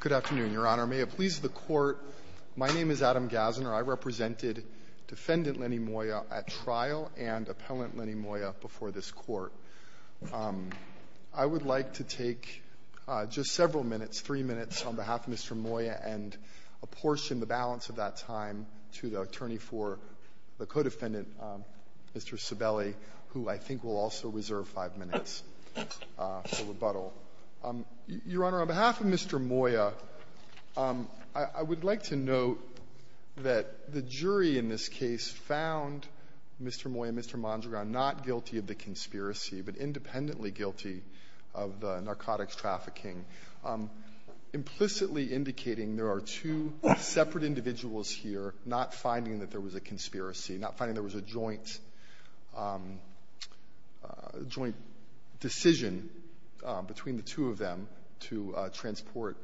Good afternoon, Your Honor. May it please the Court, my name is Adam Gassner. I represented Defendant Lenny Moya at trial and Appellant Lenny Moya before this Court. I would like to take just several minutes, three minutes, on behalf of Mr. Moya and apportion the balance of that time to the attorney for the co-defendant, Mr. Sibeli, who I think will also reserve five minutes for rebuttal. Your Honor, on behalf of Mr. Moya, I would like to note that the jury in this case found Mr. Moya and Mr. Mondragon not guilty of the conspiracy but independently guilty of the narcotics trafficking, implicitly indicating there are two separate not finding that there was a conspiracy, not finding there was a joint decision between the two of them to transport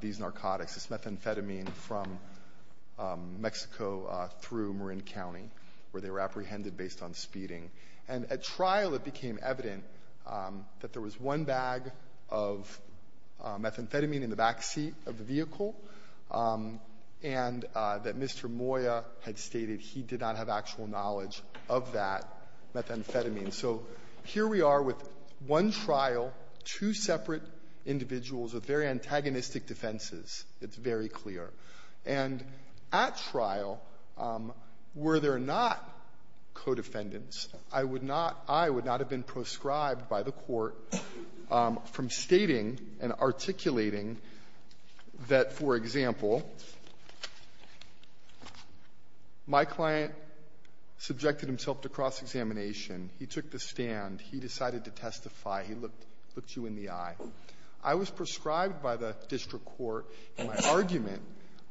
these narcotics, this methamphetamine, from Mexico through Marin County, where they were apprehended based on speeding. And at trial it became evident that there was one bag of methamphetamine in the backseat of the vehicle and that Mr. Moya had stated he did not have actual knowledge of that methamphetamine. So here we are with one trial, two separate individuals with very antagonistic defenses. It's very clear. And at trial, were there not co-defendants, I would not have been proscribed by the court from stating and articulating that, for example, my client subjected himself to cross-examination. He took the stand. He decided to testify. He looked you in the eye. I was proscribed by the district court in my argument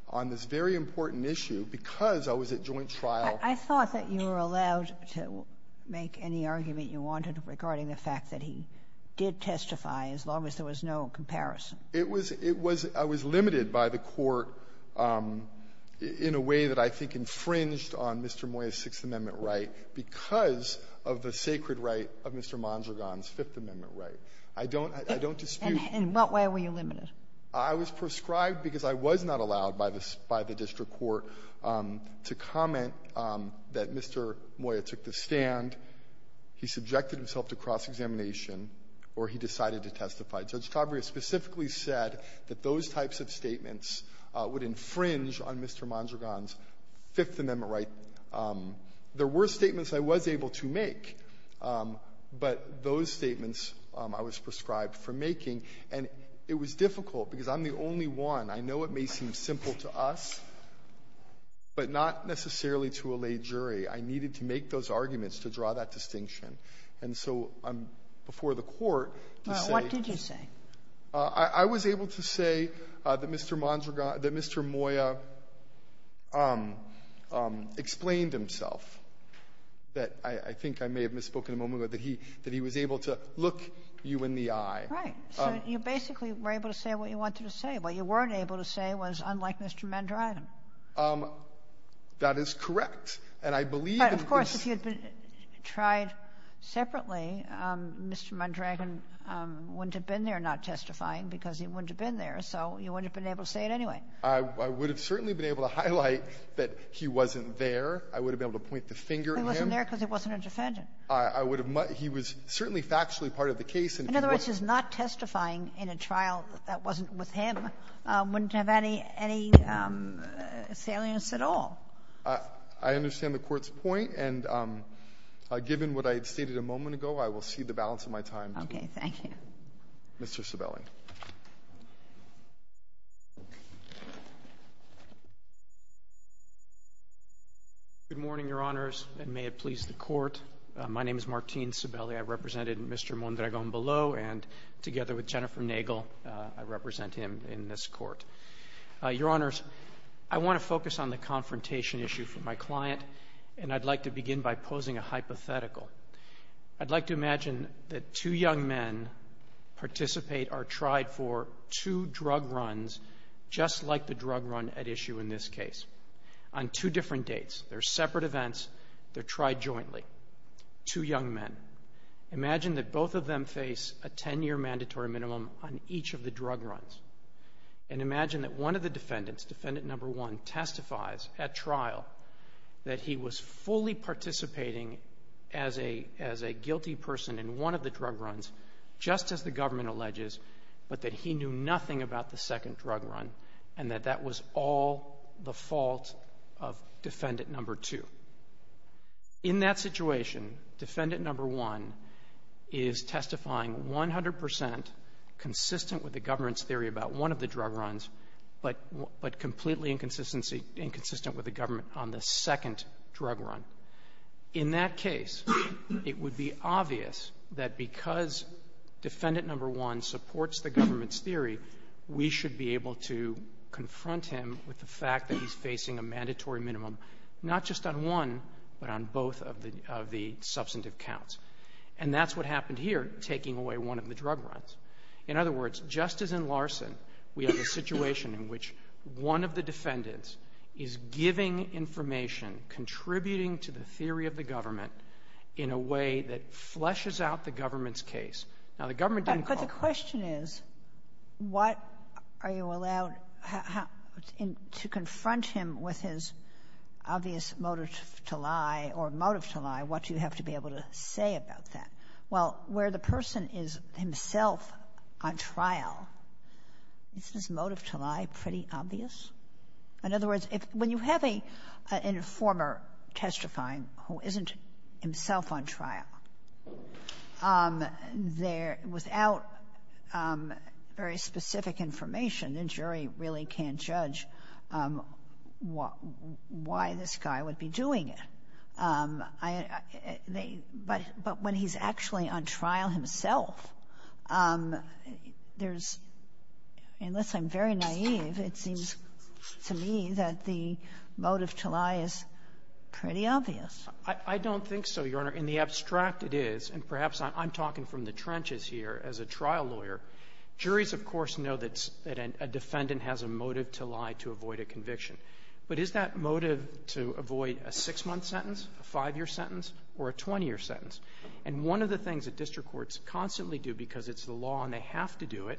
on this very important issue because I was at joint trial. I thought that you were allowed to make any argument you wanted regarding the fact that he did testify as long as there was no comparison. It was — it was — I was limited by the court in a way that I think infringed on Mr. Moya's Sixth Amendment right because of the sacred right of Mr. Mondragon's Fifth Amendment right. I don't — I don't dispute that. And in what way were you limited? I was proscribed because I was not allowed by the — by the district court to comment that Mr. Moya took the stand, he subjected himself to cross-examination, or he decided to testify. Judge Cabrera specifically said that those types of statements would infringe on Mr. Mondragon's Fifth Amendment right. There were statements I was able to make, but those statements I was proscribed for making. And it was difficult because I'm the only one. I know it may seem simple to us, but not necessarily to a lay jury. I needed to make those arguments to draw that distinction. And so I'm — before the court to say — Well, what did you say? I was able to say that Mr. Mondragon — that Mr. Moya explained himself. That I think I may have misspoken a moment ago, that he — that he was able to look you in the eye. Right. So you basically were able to say what you wanted to say. What you weren't able to say was, unlike Mr. Mondragon. That is correct. And I believe that this — But of course, if you had tried separately, Mr. Mondragon wouldn't have been there not testifying because he wouldn't have been there. So you wouldn't have been able to say it anyway. I would have certainly been able to highlight that he wasn't there. I would have been able to point the finger at him. But he wasn't there because he wasn't a defendant. I would have — he was certainly factually part of the case. And if he was — In other words, his not testifying in a trial that wasn't with him wouldn't have any salience at all. I understand the Court's point. And given what I had stated a moment ago, I will cede the balance of my time to — Okay. Thank you. Mr. Cebelli. Good morning, Your Honors, and may it please the Court. My name is Martin Cebelli. I represented Mr. Mondragon below. And together with Jennifer Nagel, I represent him in this Court. Your Honors, I want to focus on the confrontation issue from my client. And I'd like to begin by posing a hypothetical. I'd like to imagine that two young men participate or tried for two drug runs, just like the drug run at issue in this case, on two different dates. They're separate events. They're tried jointly. Two young men. Imagine that both of them face a 10-year mandatory minimum on each of the drug runs. And imagine that one of the defendants, defendant number one, testifies at trial that he was fully participating as a guilty person in one of the drug runs, just as the government alleges, but that he knew nothing about the second drug run, and that that was all the fault of defendant number two. In that situation, defendant number one is testifying 100 percent consistent with the government on the second drug run. In that case, it would be obvious that because defendant number one supports the government's theory, we should be able to confront him with the fact that he's facing a mandatory minimum, not just on one, but on both of the substantive counts. And that's what happened here, taking away one of the drug runs. In other words, just as in Larson, we have a situation in which one of the defendants is giving information, contributing to the theory of the government, in a way that fleshes out the government's case. Now, the government didn't call for it. But the question is, what are you allowed to confront him with his obvious motive to lie, or motive to lie, what do you have to be able to say about that? Well, where the trial, is his motive to lie pretty obvious? In other words, when you have an informer testifying who isn't himself on trial, there, without very specific information, the jury really can't judge why this guy would be doing it. But when he's actually on trial himself, there's, unless I'm very naive, it seems to me that the motive to lie is pretty obvious. I don't think so, Your Honor. In the abstract it is, and perhaps I'm talking from the trenches here, as a trial lawyer, juries of course know that a defendant has a motive to lie to avoid a conviction. But is that motive to avoid a six-month sentence, a five-year sentence, or a 20-year sentence? And one of the things that district courts constantly do, because it's the law and they have to do it,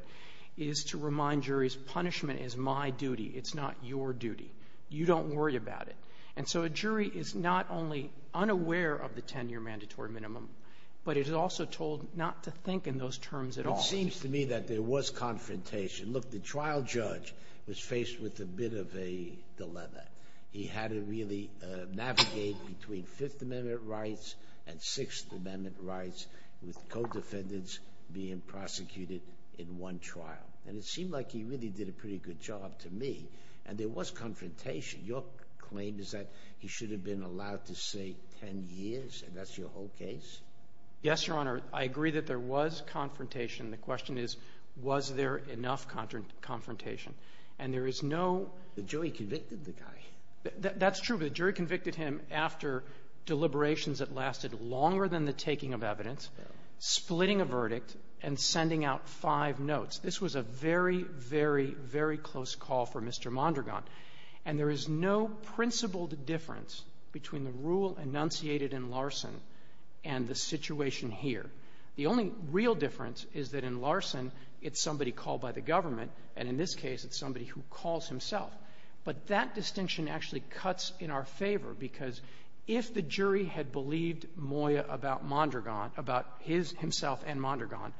is to remind juries, punishment is my duty, it's not your duty. You don't worry about it. And so a jury is not only unaware of the 10-year mandatory minimum, but it is also told not to think in those terms at all. It seems to me that there was confrontation. Look, the trial judge was faced with a bit of a dilemma. He had to really navigate between Fifth Amendment rights and Sixth Amendment rights, with co-defendants being prosecuted in one trial. And it seemed like he really did a pretty good job, to me. And there was confrontation. Your claim is that he should have been allowed to say 10 years, and that's your whole case? Yes, Your Honor. I agree that there was confrontation. The question is, was there enough confrontation? And there is no... That's true, but the jury convicted him after deliberations that lasted longer than the taking of evidence, splitting a verdict, and sending out five notes. This was a very, very, very close call for Mr. Mondragon. And there is no principled difference between the rule enunciated in Larson and the situation here. The only real difference is that in Larson, it's somebody called by the government, and in this case, it's somebody who calls himself. But that distinction actually cuts in our favor, because if the jury had believed Moya about Mondragon, about himself and Mondragon,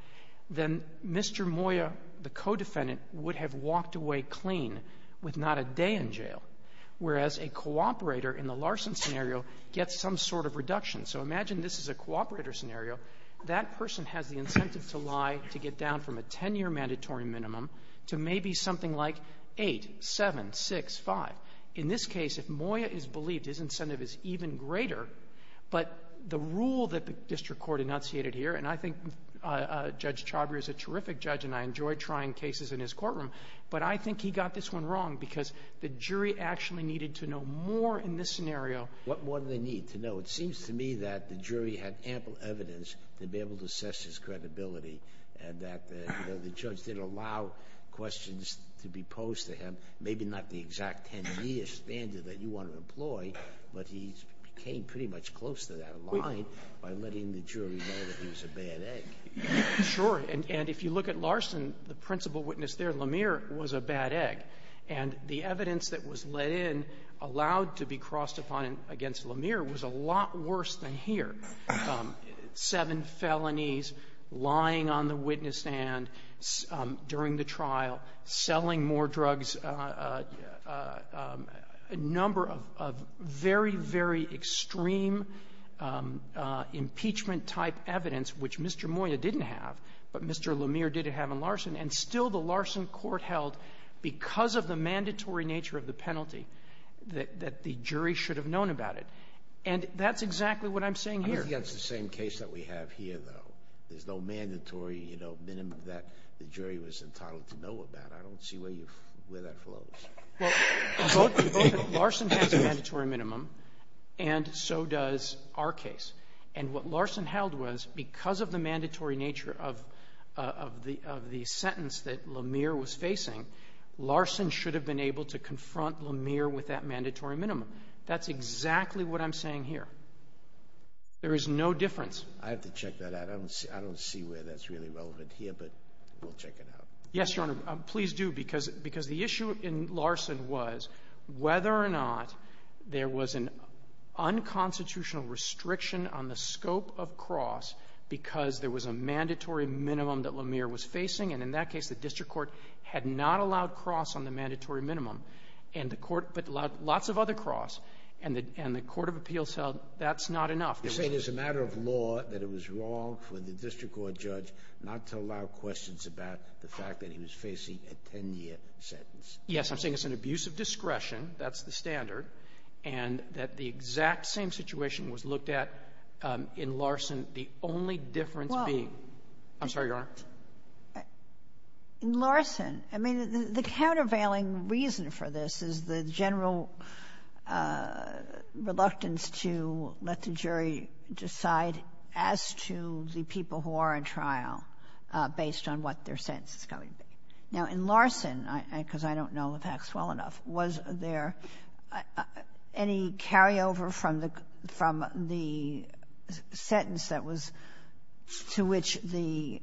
then Mr. Moya, the co-defendant, would have walked away clean, with not a day in jail. Whereas a cooperator in the Larson scenario gets some sort of reduction. So imagine this is a cooperator scenario. That person has the incentive to lie, to get down from a 10-year mandatory minimum, to maybe something like 8, 7, 6, 5. In this case, if Moya is believed, his incentive is even greater. But the rule that the district court enunciated here, and I think Judge Chhabria is a terrific judge and I enjoy trying cases in his courtroom, but I think he got this one wrong, because the jury actually needed to know more in this scenario. What more do they need to know? It seems to me that the jury had ample evidence to be able to assess his credibility, and that the judge didn't allow questions to be posed to him. Maybe not the exact 10-year standard that you want to employ, but he came pretty much close to that line by letting the jury know that he was a bad egg. Sure, and if you look at Larson, the principal witness there, Lemire, was a bad egg. And the evidence that was let in, allowed to be crossed upon against Lemire, was a lot worse than here. Seven felonies, lying on the witness stand during the trial, selling more drugs and a number of very, very extreme impeachment type evidence, which Mr. Moyer didn't have, but Mr. Lemire did have in Larson, and still the Larson court held, because of the mandatory nature of the penalty, that the jury should have known about it. And that's exactly what I'm saying here. I think that's the same case that we have here, though. There's no mandatory, you know, minimum that the jury was entitled to know about. I don't see where you, where that flows. Larson has a mandatory minimum, and so does our case. And what Larson held was, because of the mandatory nature of the sentence that Lemire was facing, Larson should have been able to confront Lemire with that mandatory minimum. That's exactly what I'm saying here. There is no difference. I have to check that out. I don't see where that's really relevant here, but we'll check it out. Yes, Your Honor, please do, because the issue in Larson was whether or not there was an unconstitutional restriction on the scope of cross because there was a mandatory minimum that Lemire was facing. And in that case, the district court had not allowed cross on the mandatory minimum, but lots of other cross. And the court of appeals held that's not enough. You're saying it's a matter of law that it was wrong for the district court judge not to allow questions about the fact that he was facing a 10-year sentence. Yes, I'm saying it's an abuse of discretion. That's the standard. And that the exact same situation was looked at in Larson, the only difference being— Well— I'm sorry, Your Honor. In Larson, I mean, the countervailing reason for this is the general reluctance to let the jury decide as to the people who are in trial based on what their sentence is going to be. Now, in Larson, because I don't know the facts well enough, was there any carryover from the sentence that was to which the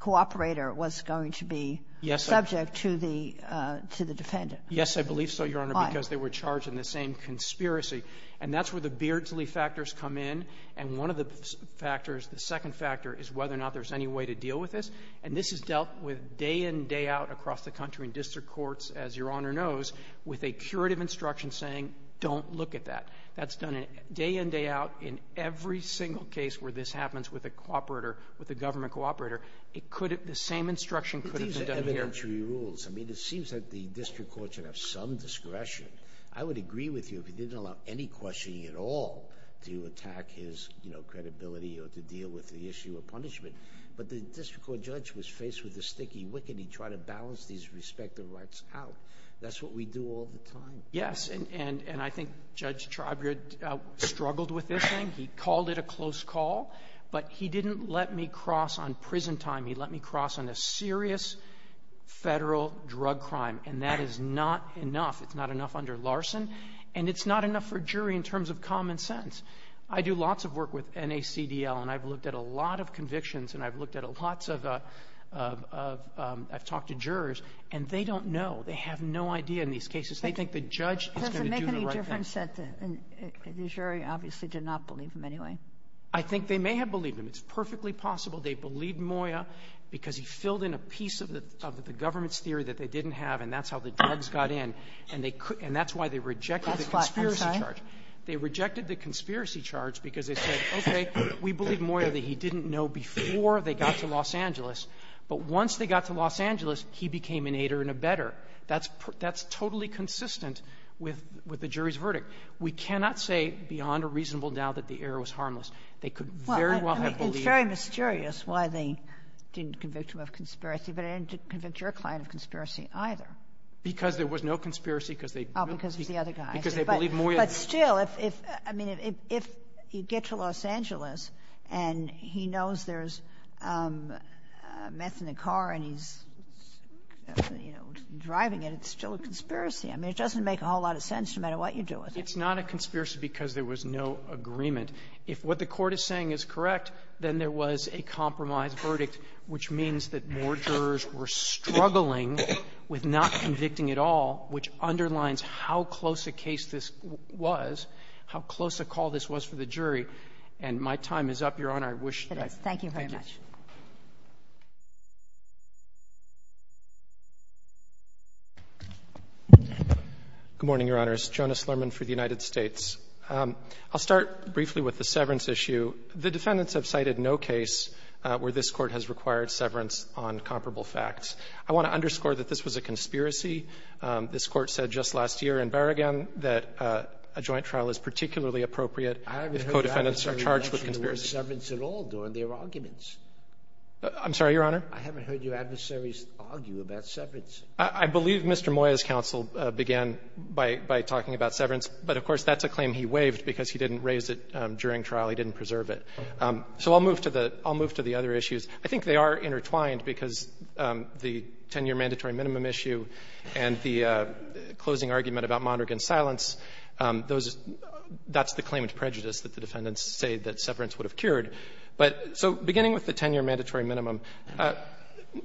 cooperator was going to be subject to the defendant? Why? I believe so, Your Honor, because they were charged in the same conspiracy. And that's where the Beardsley factors come in. And one of the factors, the second factor, is whether or not there's any way to deal with this. And this is dealt with day in, day out across the country in district courts, as Your Honor knows, with a curative instruction saying, don't look at that. That's done day in, day out in every single case where this happens with a cooperator, with a government cooperator. It could have—the same instruction could have been done here. I mean, it seems that the district court should have some discretion. I would agree with you if he didn't allow any questioning at all to attack his, you know, credibility or to deal with the issue of punishment. But the district court judge was faced with the sticky wicked. He tried to balance these respective rights out. That's what we do all the time. Yes. And I think Judge Trobriere struggled with this thing. He called it a close call. But he didn't let me cross on prison time. He let me cross on a serious federal drug crime. And that is not enough. It's not enough under Larson. And it's not enough for a jury in terms of common sense. I do lots of work with NACDL, and I've looked at a lot of convictions, and I've looked at lots of—I've talked to jurors, and they don't know. They have no idea in these cases. They think the judge is going to do the right thing. Does it make any difference that the jury obviously did not believe him anyway? I think they may have believed him. It's perfectly possible they believed Moya because he filled in a piece of the government's theory that they didn't have, and that's how the drugs got in. And they could—and that's why they rejected the conspiracy charge. They rejected the conspiracy charge because they said, okay, we believe Moya that he didn't know before they got to Los Angeles. But once they got to Los Angeles, he became an aider and abetter. That's totally consistent with the jury's verdict. We cannot say beyond a It's very mysterious why they didn't convict him of conspiracy, but it didn't convict your client of conspiracy either. Because there was no conspiracy, because they— Oh, because it was the other guy. Because they believed Moya. But still, I mean, if you get to Los Angeles and he knows there's meth in the car and he's driving it, it's still a conspiracy. I mean, it doesn't make a whole lot of sense no matter what you do with it. It's not a conspiracy because there was no agreement. If what the Court is saying is correct, then there was a compromise verdict, which means that more jurors were struggling with not convicting at all, which underlines how close a case this was, how close a call this was for the jury. And my time is up, Your Honor. I wish that I could thank you. It is. Thank you very much. Good morning, Your Honors. Jonas Lerman for the United States. I'll start briefly with the severance issue. The defendants have cited no case where this Court has required severance on comparable facts. I want to underscore that this was a conspiracy. This Court said just last year in Berrigan that a joint trial is particularly appropriate if co-defendants are charged with conspiracy. I'm sorry, Your Honor. I haven't heard your adversaries argue about severance. I believe Mr. Moyer's counsel began by talking about severance, but of course, that's a claim he waived because he didn't raise it during trial. He didn't preserve it. So I'll move to the other issues. I think they are intertwined because the 10-year mandatory minimum issue and the closing argument about Mondragon's silence, that's the claimant's prejudice that the defendants say that severance would have secured. So beginning with the 10-year mandatory minimum,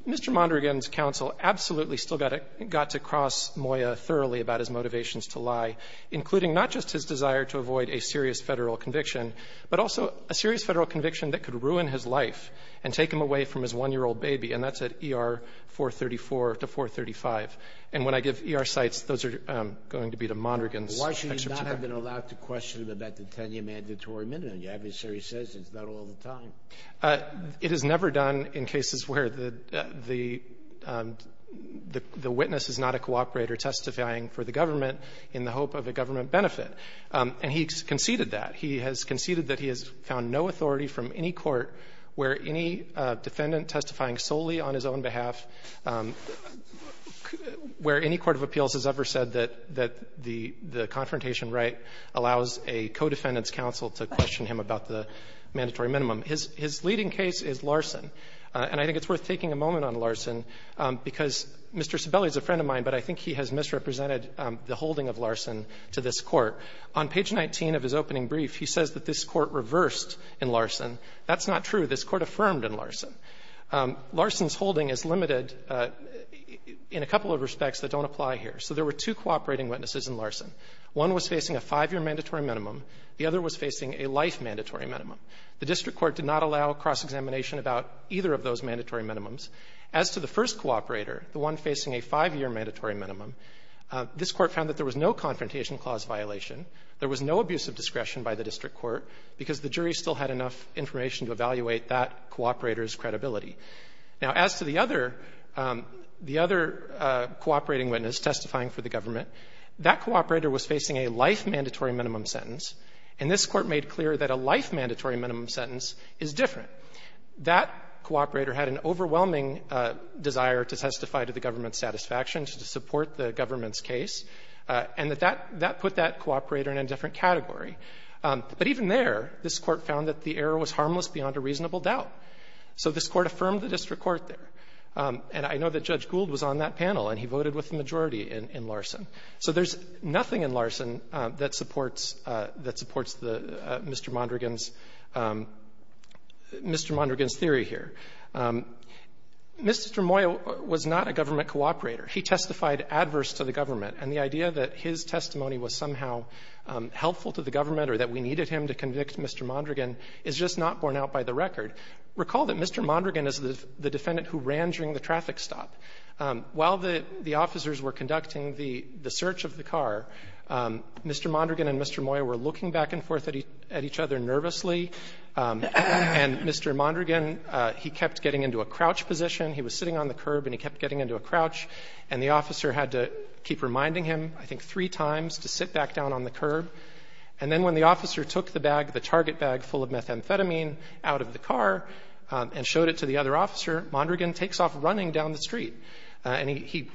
Mr. Mondragon's counsel absolutely still got to cross Moyer thoroughly about his motivations to lie, including not just his desire to avoid a serious Federal conviction, but also a serious Federal conviction that could ruin his life and take him away from his 1-year-old baby, and that's at ER 434 to 435. And when I give ER sites, those are going to be to Mondragon's excerpt. Why should you not have been allowed to question him about the 10-year mandatory minimum? The adversary says it's not all the time. It is never done in cases where the witness is not a cooperator testifying for the government in the hope of a government benefit. And he conceded that. He has conceded that he has found no authority from any court where any defendant testifying solely on his own behalf, where any court of appeals has ever said that the confrontation right allows a co-defendant's counsel to question him about the mandatory minimum. His leading case is Larson. And I think it's worth taking a moment on Larson, because Mr. Sibeli is a friend of mine, but I think he has misrepresented the holding of Larson to this Court. On page 19 of his opening brief, he says that this Court reversed in Larson. That's not true. This Court affirmed in Larson. Larson's holding is limited in a couple of respects that don't apply here. So there were two cooperating witnesses in Larson. One was facing a 5-year mandatory minimum. The other was facing a life mandatory minimum. The district court did not allow cross-examination about either of those mandatory minimums. As to the first cooperator, the one facing a 5-year mandatory minimum, this Court found that there was no confrontation clause violation. There was no abuse of discretion by the district court, because the jury still had enough information to evaluate that cooperator's credibility. Now, as to the other cooperating witness testifying for the government, that cooperator was facing a life mandatory minimum sentence, and this Court made clear that a life mandatory minimum sentence is different. That cooperator had an overwhelming desire to testify to the government's satisfaction, to support the government's case, and that that put that cooperator in a different category. But even there, this Court found that the error was harmless beyond a reasonable doubt. So this Court affirmed the district court there. And I know that Judge Gould was on that panel, and he voted with the majority in Larson. So there's nothing in Larson that supports the Mr. Mondragon's Mr. Mondragon's theory here. Mr. Moyer was not a government cooperator. He testified adverse to the government, and the idea that his testimony was somehow helpful to the government or that we needed him to convict Mr. Mondragon is just not borne out by the record. Recall that Mr. Mondragon is the defendant who ran during the traffic stop. While the officers were conducting the search of the car, Mr. Mondragon and Mr. Moyer were looking back and forth at each other nervously, and Mr. Mondragon, he kept getting into a crouch position. He was sitting on the curb, and he kept getting into a crouch. And the officer had to keep reminding him, I think, three times to sit back down on the curb. And then when the officer took the bag, the target bag full of methamphetamine, out of the car and showed it to the other officer, Mondragon takes off running down the street, and he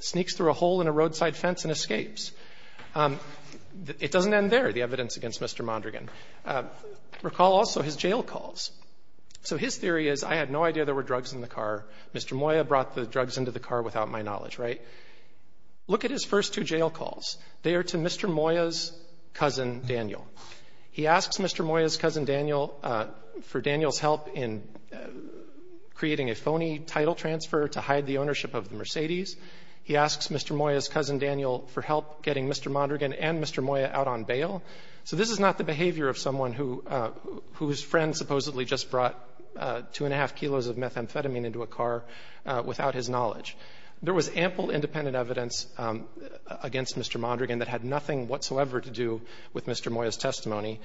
sneaks through a hole in a roadside fence and escapes. It doesn't end there, the evidence against Mr. Mondragon. Recall also his jail calls. So his theory is, I had no idea there were drugs in the car. Mr. Moyer brought the drugs into the car without my knowledge, right? Look at his first two jail calls. They are to Mr. Moyer's cousin Daniel. He asks Mr. Moyer's cousin Daniel for Daniel's help in creating a phony title transfer to hide the ownership of the Mercedes. He asks Mr. Moyer's cousin Daniel for help getting Mr. Mondragon and Mr. Moyer out on bail. So this is not the behavior of someone whose friend supposedly just brought two and a half kilos of methamphetamine into a car without his knowledge. There was ample independent evidence against Mr. Mondragon that had nothing whatsoever to do with Mr. Moyer's testimony.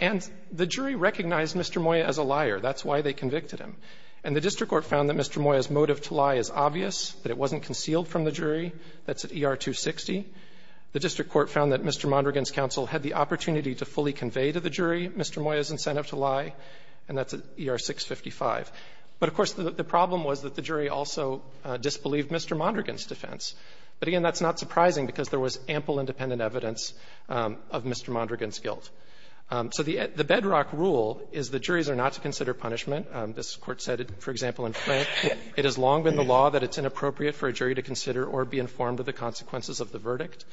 And the jury recognized Mr. Moyer as a liar. That's why they convicted him. And the district court found that Mr. Moyer's motive to lie is obvious, that it wasn't concealed from the jury. That's at ER 260. The district court found that Mr. Mondragon's counsel had the opportunity to fully convey to the jury Mr. Moyer's incentive to lie, and that's at ER 655. But of course, the problem was that the jury also disbelieved Mr. Mondragon's defense. But again, that's not surprising, because there was ample independent evidence of Mr. Mondragon's guilt. So the bedrock rule is the juries are not to consider punishment. This Court said, for example, in Frank, it has long been the law that it's inappropriate for a jury to consider or be informed of the consequences of the verdict.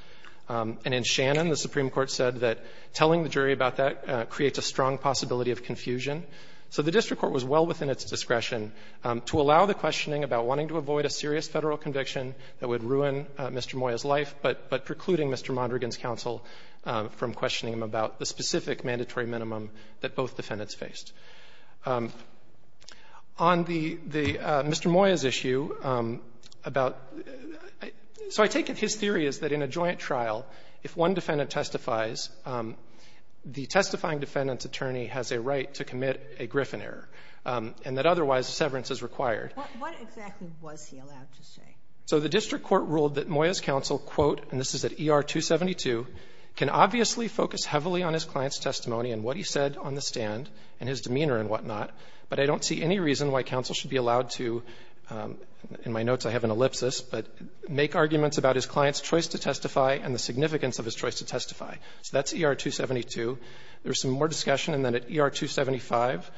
And in Shannon, the Supreme Court said that telling the jury about that creates a strong possibility of confusion. So the district court was well within its discretion to allow the questioning about wanting to avoid a serious Federal conviction that would ruin Mr. Moyer's life, but precluding Mr. Mondragon's counsel from questioning him about the specific mandatory minimum that both defendants faced. On the Mr. Moyer's issue about — so I take it his theory is that in a joint trial, if one defendant testifies, the testifying defendant's attorney has a right to commit a Griffin error. And that's not true in this case. And that otherwise, severance is required. What exactly was he allowed to say? So the district court ruled that Moyer's counsel, quote, and this is at ER 272, can obviously focus heavily on his client's testimony and what he said on the stand and his demeanor and whatnot, but I don't see any reason why counsel should be allowed to — in my notes, I have an ellipsis — but make arguments about his client's choice to testify and the significance of his choice to testify. So that's ER 272. There's some more discussion, and then at ER 275,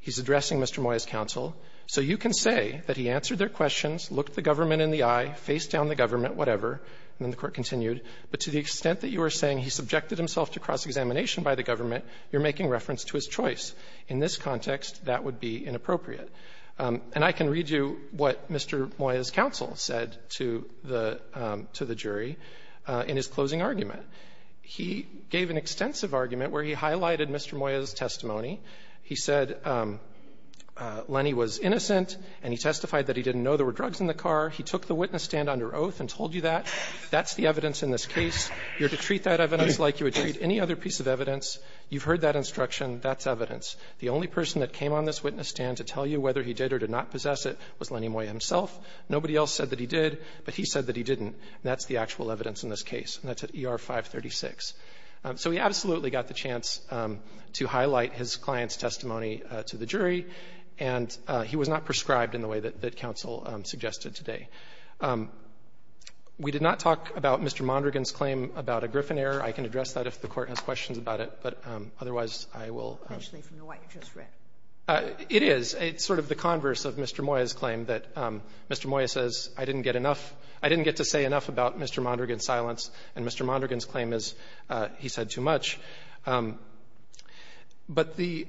he's addressing Mr. Moyer's counsel. So you can say that he answered their questions, looked the government in the eye, faced down the government, whatever, and then the court continued. But to the extent that you are saying he subjected himself to cross-examination by the government, you're making reference to his choice. In this context, that would be inappropriate. And I can read you what Mr. Moyer's counsel said to the — to the jury in his closing argument. He gave an extensive argument where he highlighted Mr. Moyer's testimony. He said Lenny was innocent, and he testified that he didn't know there were drugs in the car. He took the witness stand under oath and told you that. That's the evidence in this case. You're to treat that evidence like you would treat any other piece of evidence. You've heard that instruction. That's evidence. The only person that came on this witness stand to tell you whether he did or did not possess it was Lenny Moyer himself. Nobody else said that he did, but he said that he didn't. That's the actual evidence in this case. And that's at ER 536. So he absolutely got the chance to highlight his client's testimony to the jury, and he was not prescribed in the way that counsel suggested today. We did not talk about Mr. Mondragon's claim about a Griffin error. I can address that if the Court has questions about it, but otherwise, I will — Sotomayor Actually, from what you just read. It is. It's sort of the converse of Mr. Moyer's claim that Mr. Moyer says, I didn't get enough — I didn't get to say enough about Mr. Mondragon's silence, and Mr. Mondragon's claim is he said too much. But the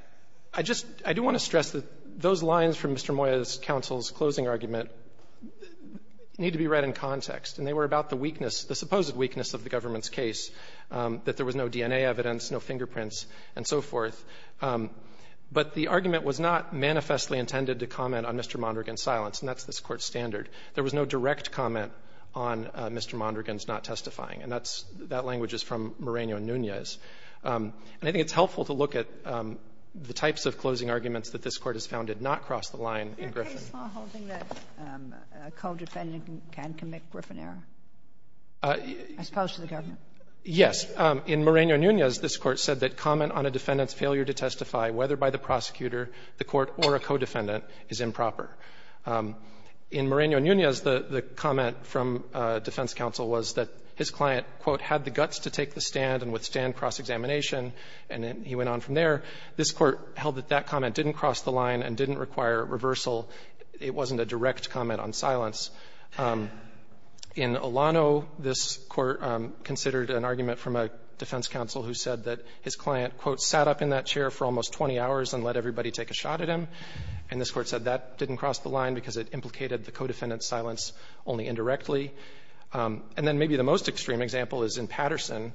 — I just — I do want to stress that those lines from Mr. Moyer's counsel's closing argument need to be read in context, and they were about the weakness, the supposed weakness of the government's case, that there was no DNA evidence, no fingerprints, and so forth. But the argument was not manifestly intended to comment on Mr. Mondragon's silence, and that's this Court's standard. There was no direct comment on Mr. Mondragon's not testifying, and that's — that language is from Moreno and Nunez. And I think it's helpful to look at the types of closing arguments that this Court has found did not cross the line in Griffin. Ginsburg Is there a case law holding that a co-defendant can commit Griffin error, as opposed to the government? Yes. In Moreno and Nunez, this Court said that comment on a defendant's failure to testify, whether by the prosecutor, the court, or a co-defendant, is improper. In Moreno and Nunez, the comment from defense counsel was that his client, quote, had the guts to take the stand and withstand cross-examination, and then he went on from there. This Court held that that comment didn't cross the line and didn't require reversal. It wasn't a direct comment on silence. In Olano, this Court considered an argument from a defense counsel who said that his client, quote, sat up in that chair for almost 20 hours and let everybody take a shot at him. And this Court said that didn't cross the line because it implicated the co-defendant's silence only indirectly. And then maybe the most extreme example is in Patterson,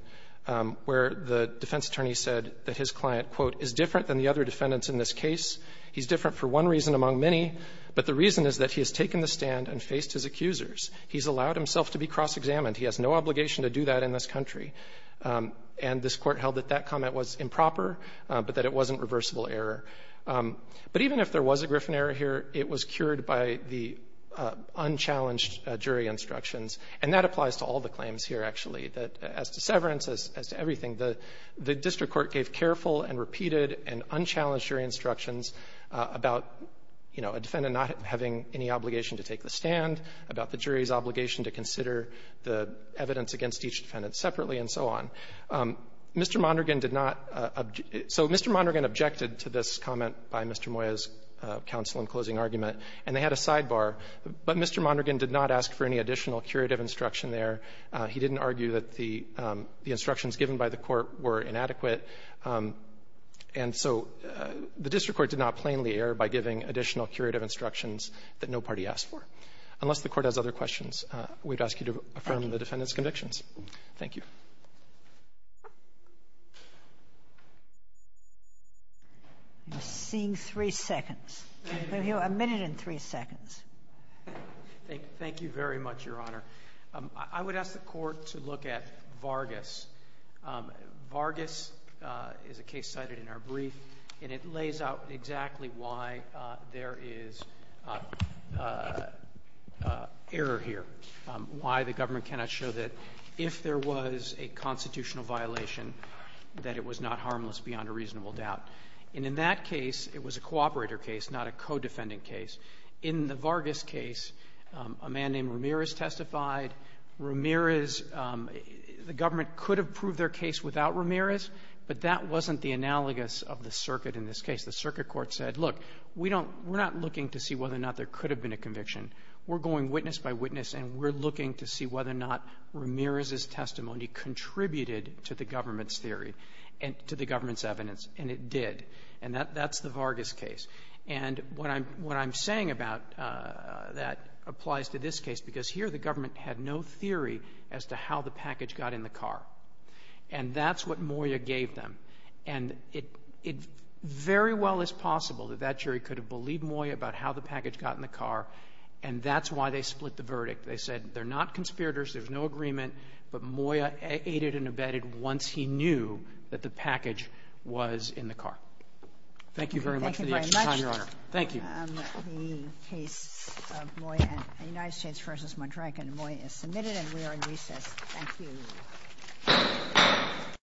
where the defense attorney said that his client, quote, is different than the other defendants in this case. He's different for one reason among many, but the reason is that he has the guts to take the stand and withstand cross-examination. And this Court held that that comment was improper, but that it wasn't reversible error. But even if there was a Griffin error here, it was cured by the unchallenged jury instructions. And that applies to all the claims here, actually, that as to severance, as to everything, the district court gave careful and repeated and unchallenged jury instructions about, you know, a defendant not having any obligation to take the stand, about the jury's obligation to consider the evidence against each defendant separately, and so on. Mr. Mondragon did not object. So Mr. Mondragon objected to this comment by Mr. Moya's counsel in closing argument, and they had a sidebar. But Mr. Mondragon did not ask for any additional curative instruction there. He didn't argue that the instructions given by the Court were inadequate. And so the district court did not plainly err by giving additional curative instructions that no party asked for, unless the Court has other questions, we'd ask you to affirm the defendant's convictions. Thank you. We're seeing three seconds. We'll hear a minute and three seconds. Thank you very much, Your Honor. I would ask the Court to look at Vargas. Vargas is a case cited in our brief, and it lays out exactly why there is error here, why the government cannot show that if there was a constitutional violation, that it was not harmless beyond a reasonable doubt. And in that case, it was a cooperator case, not a co-defendant case. In the Vargas case, a man named Ramirez testified. Ramirez, the government could have proved their case without Ramirez, but that wasn't the analogous of the circuit in this case. The circuit court said, look, we're not looking to see whether or not there could have been a conviction. We're going witness by witness, and we're looking to see whether or not Ramirez's testimony contributed to the government's theory, to the government's evidence. And it did. And that's the Vargas case. And what I'm saying about that applies to this case, because here the government had no theory as to how the package got in the car. And that's what Moya gave them. And it very well is possible that that jury could have believed Moya about how the package got in the car, and that's why they split the verdict. They said, they're not conspirators, there's no agreement, but Moya aided and abetted once he knew that the package was in the car. Thank you very much for the extra time, Your Honor. Thank you. The case of Moya and United States v. Madraca and Moya is submitted and we are in recess. Thank you.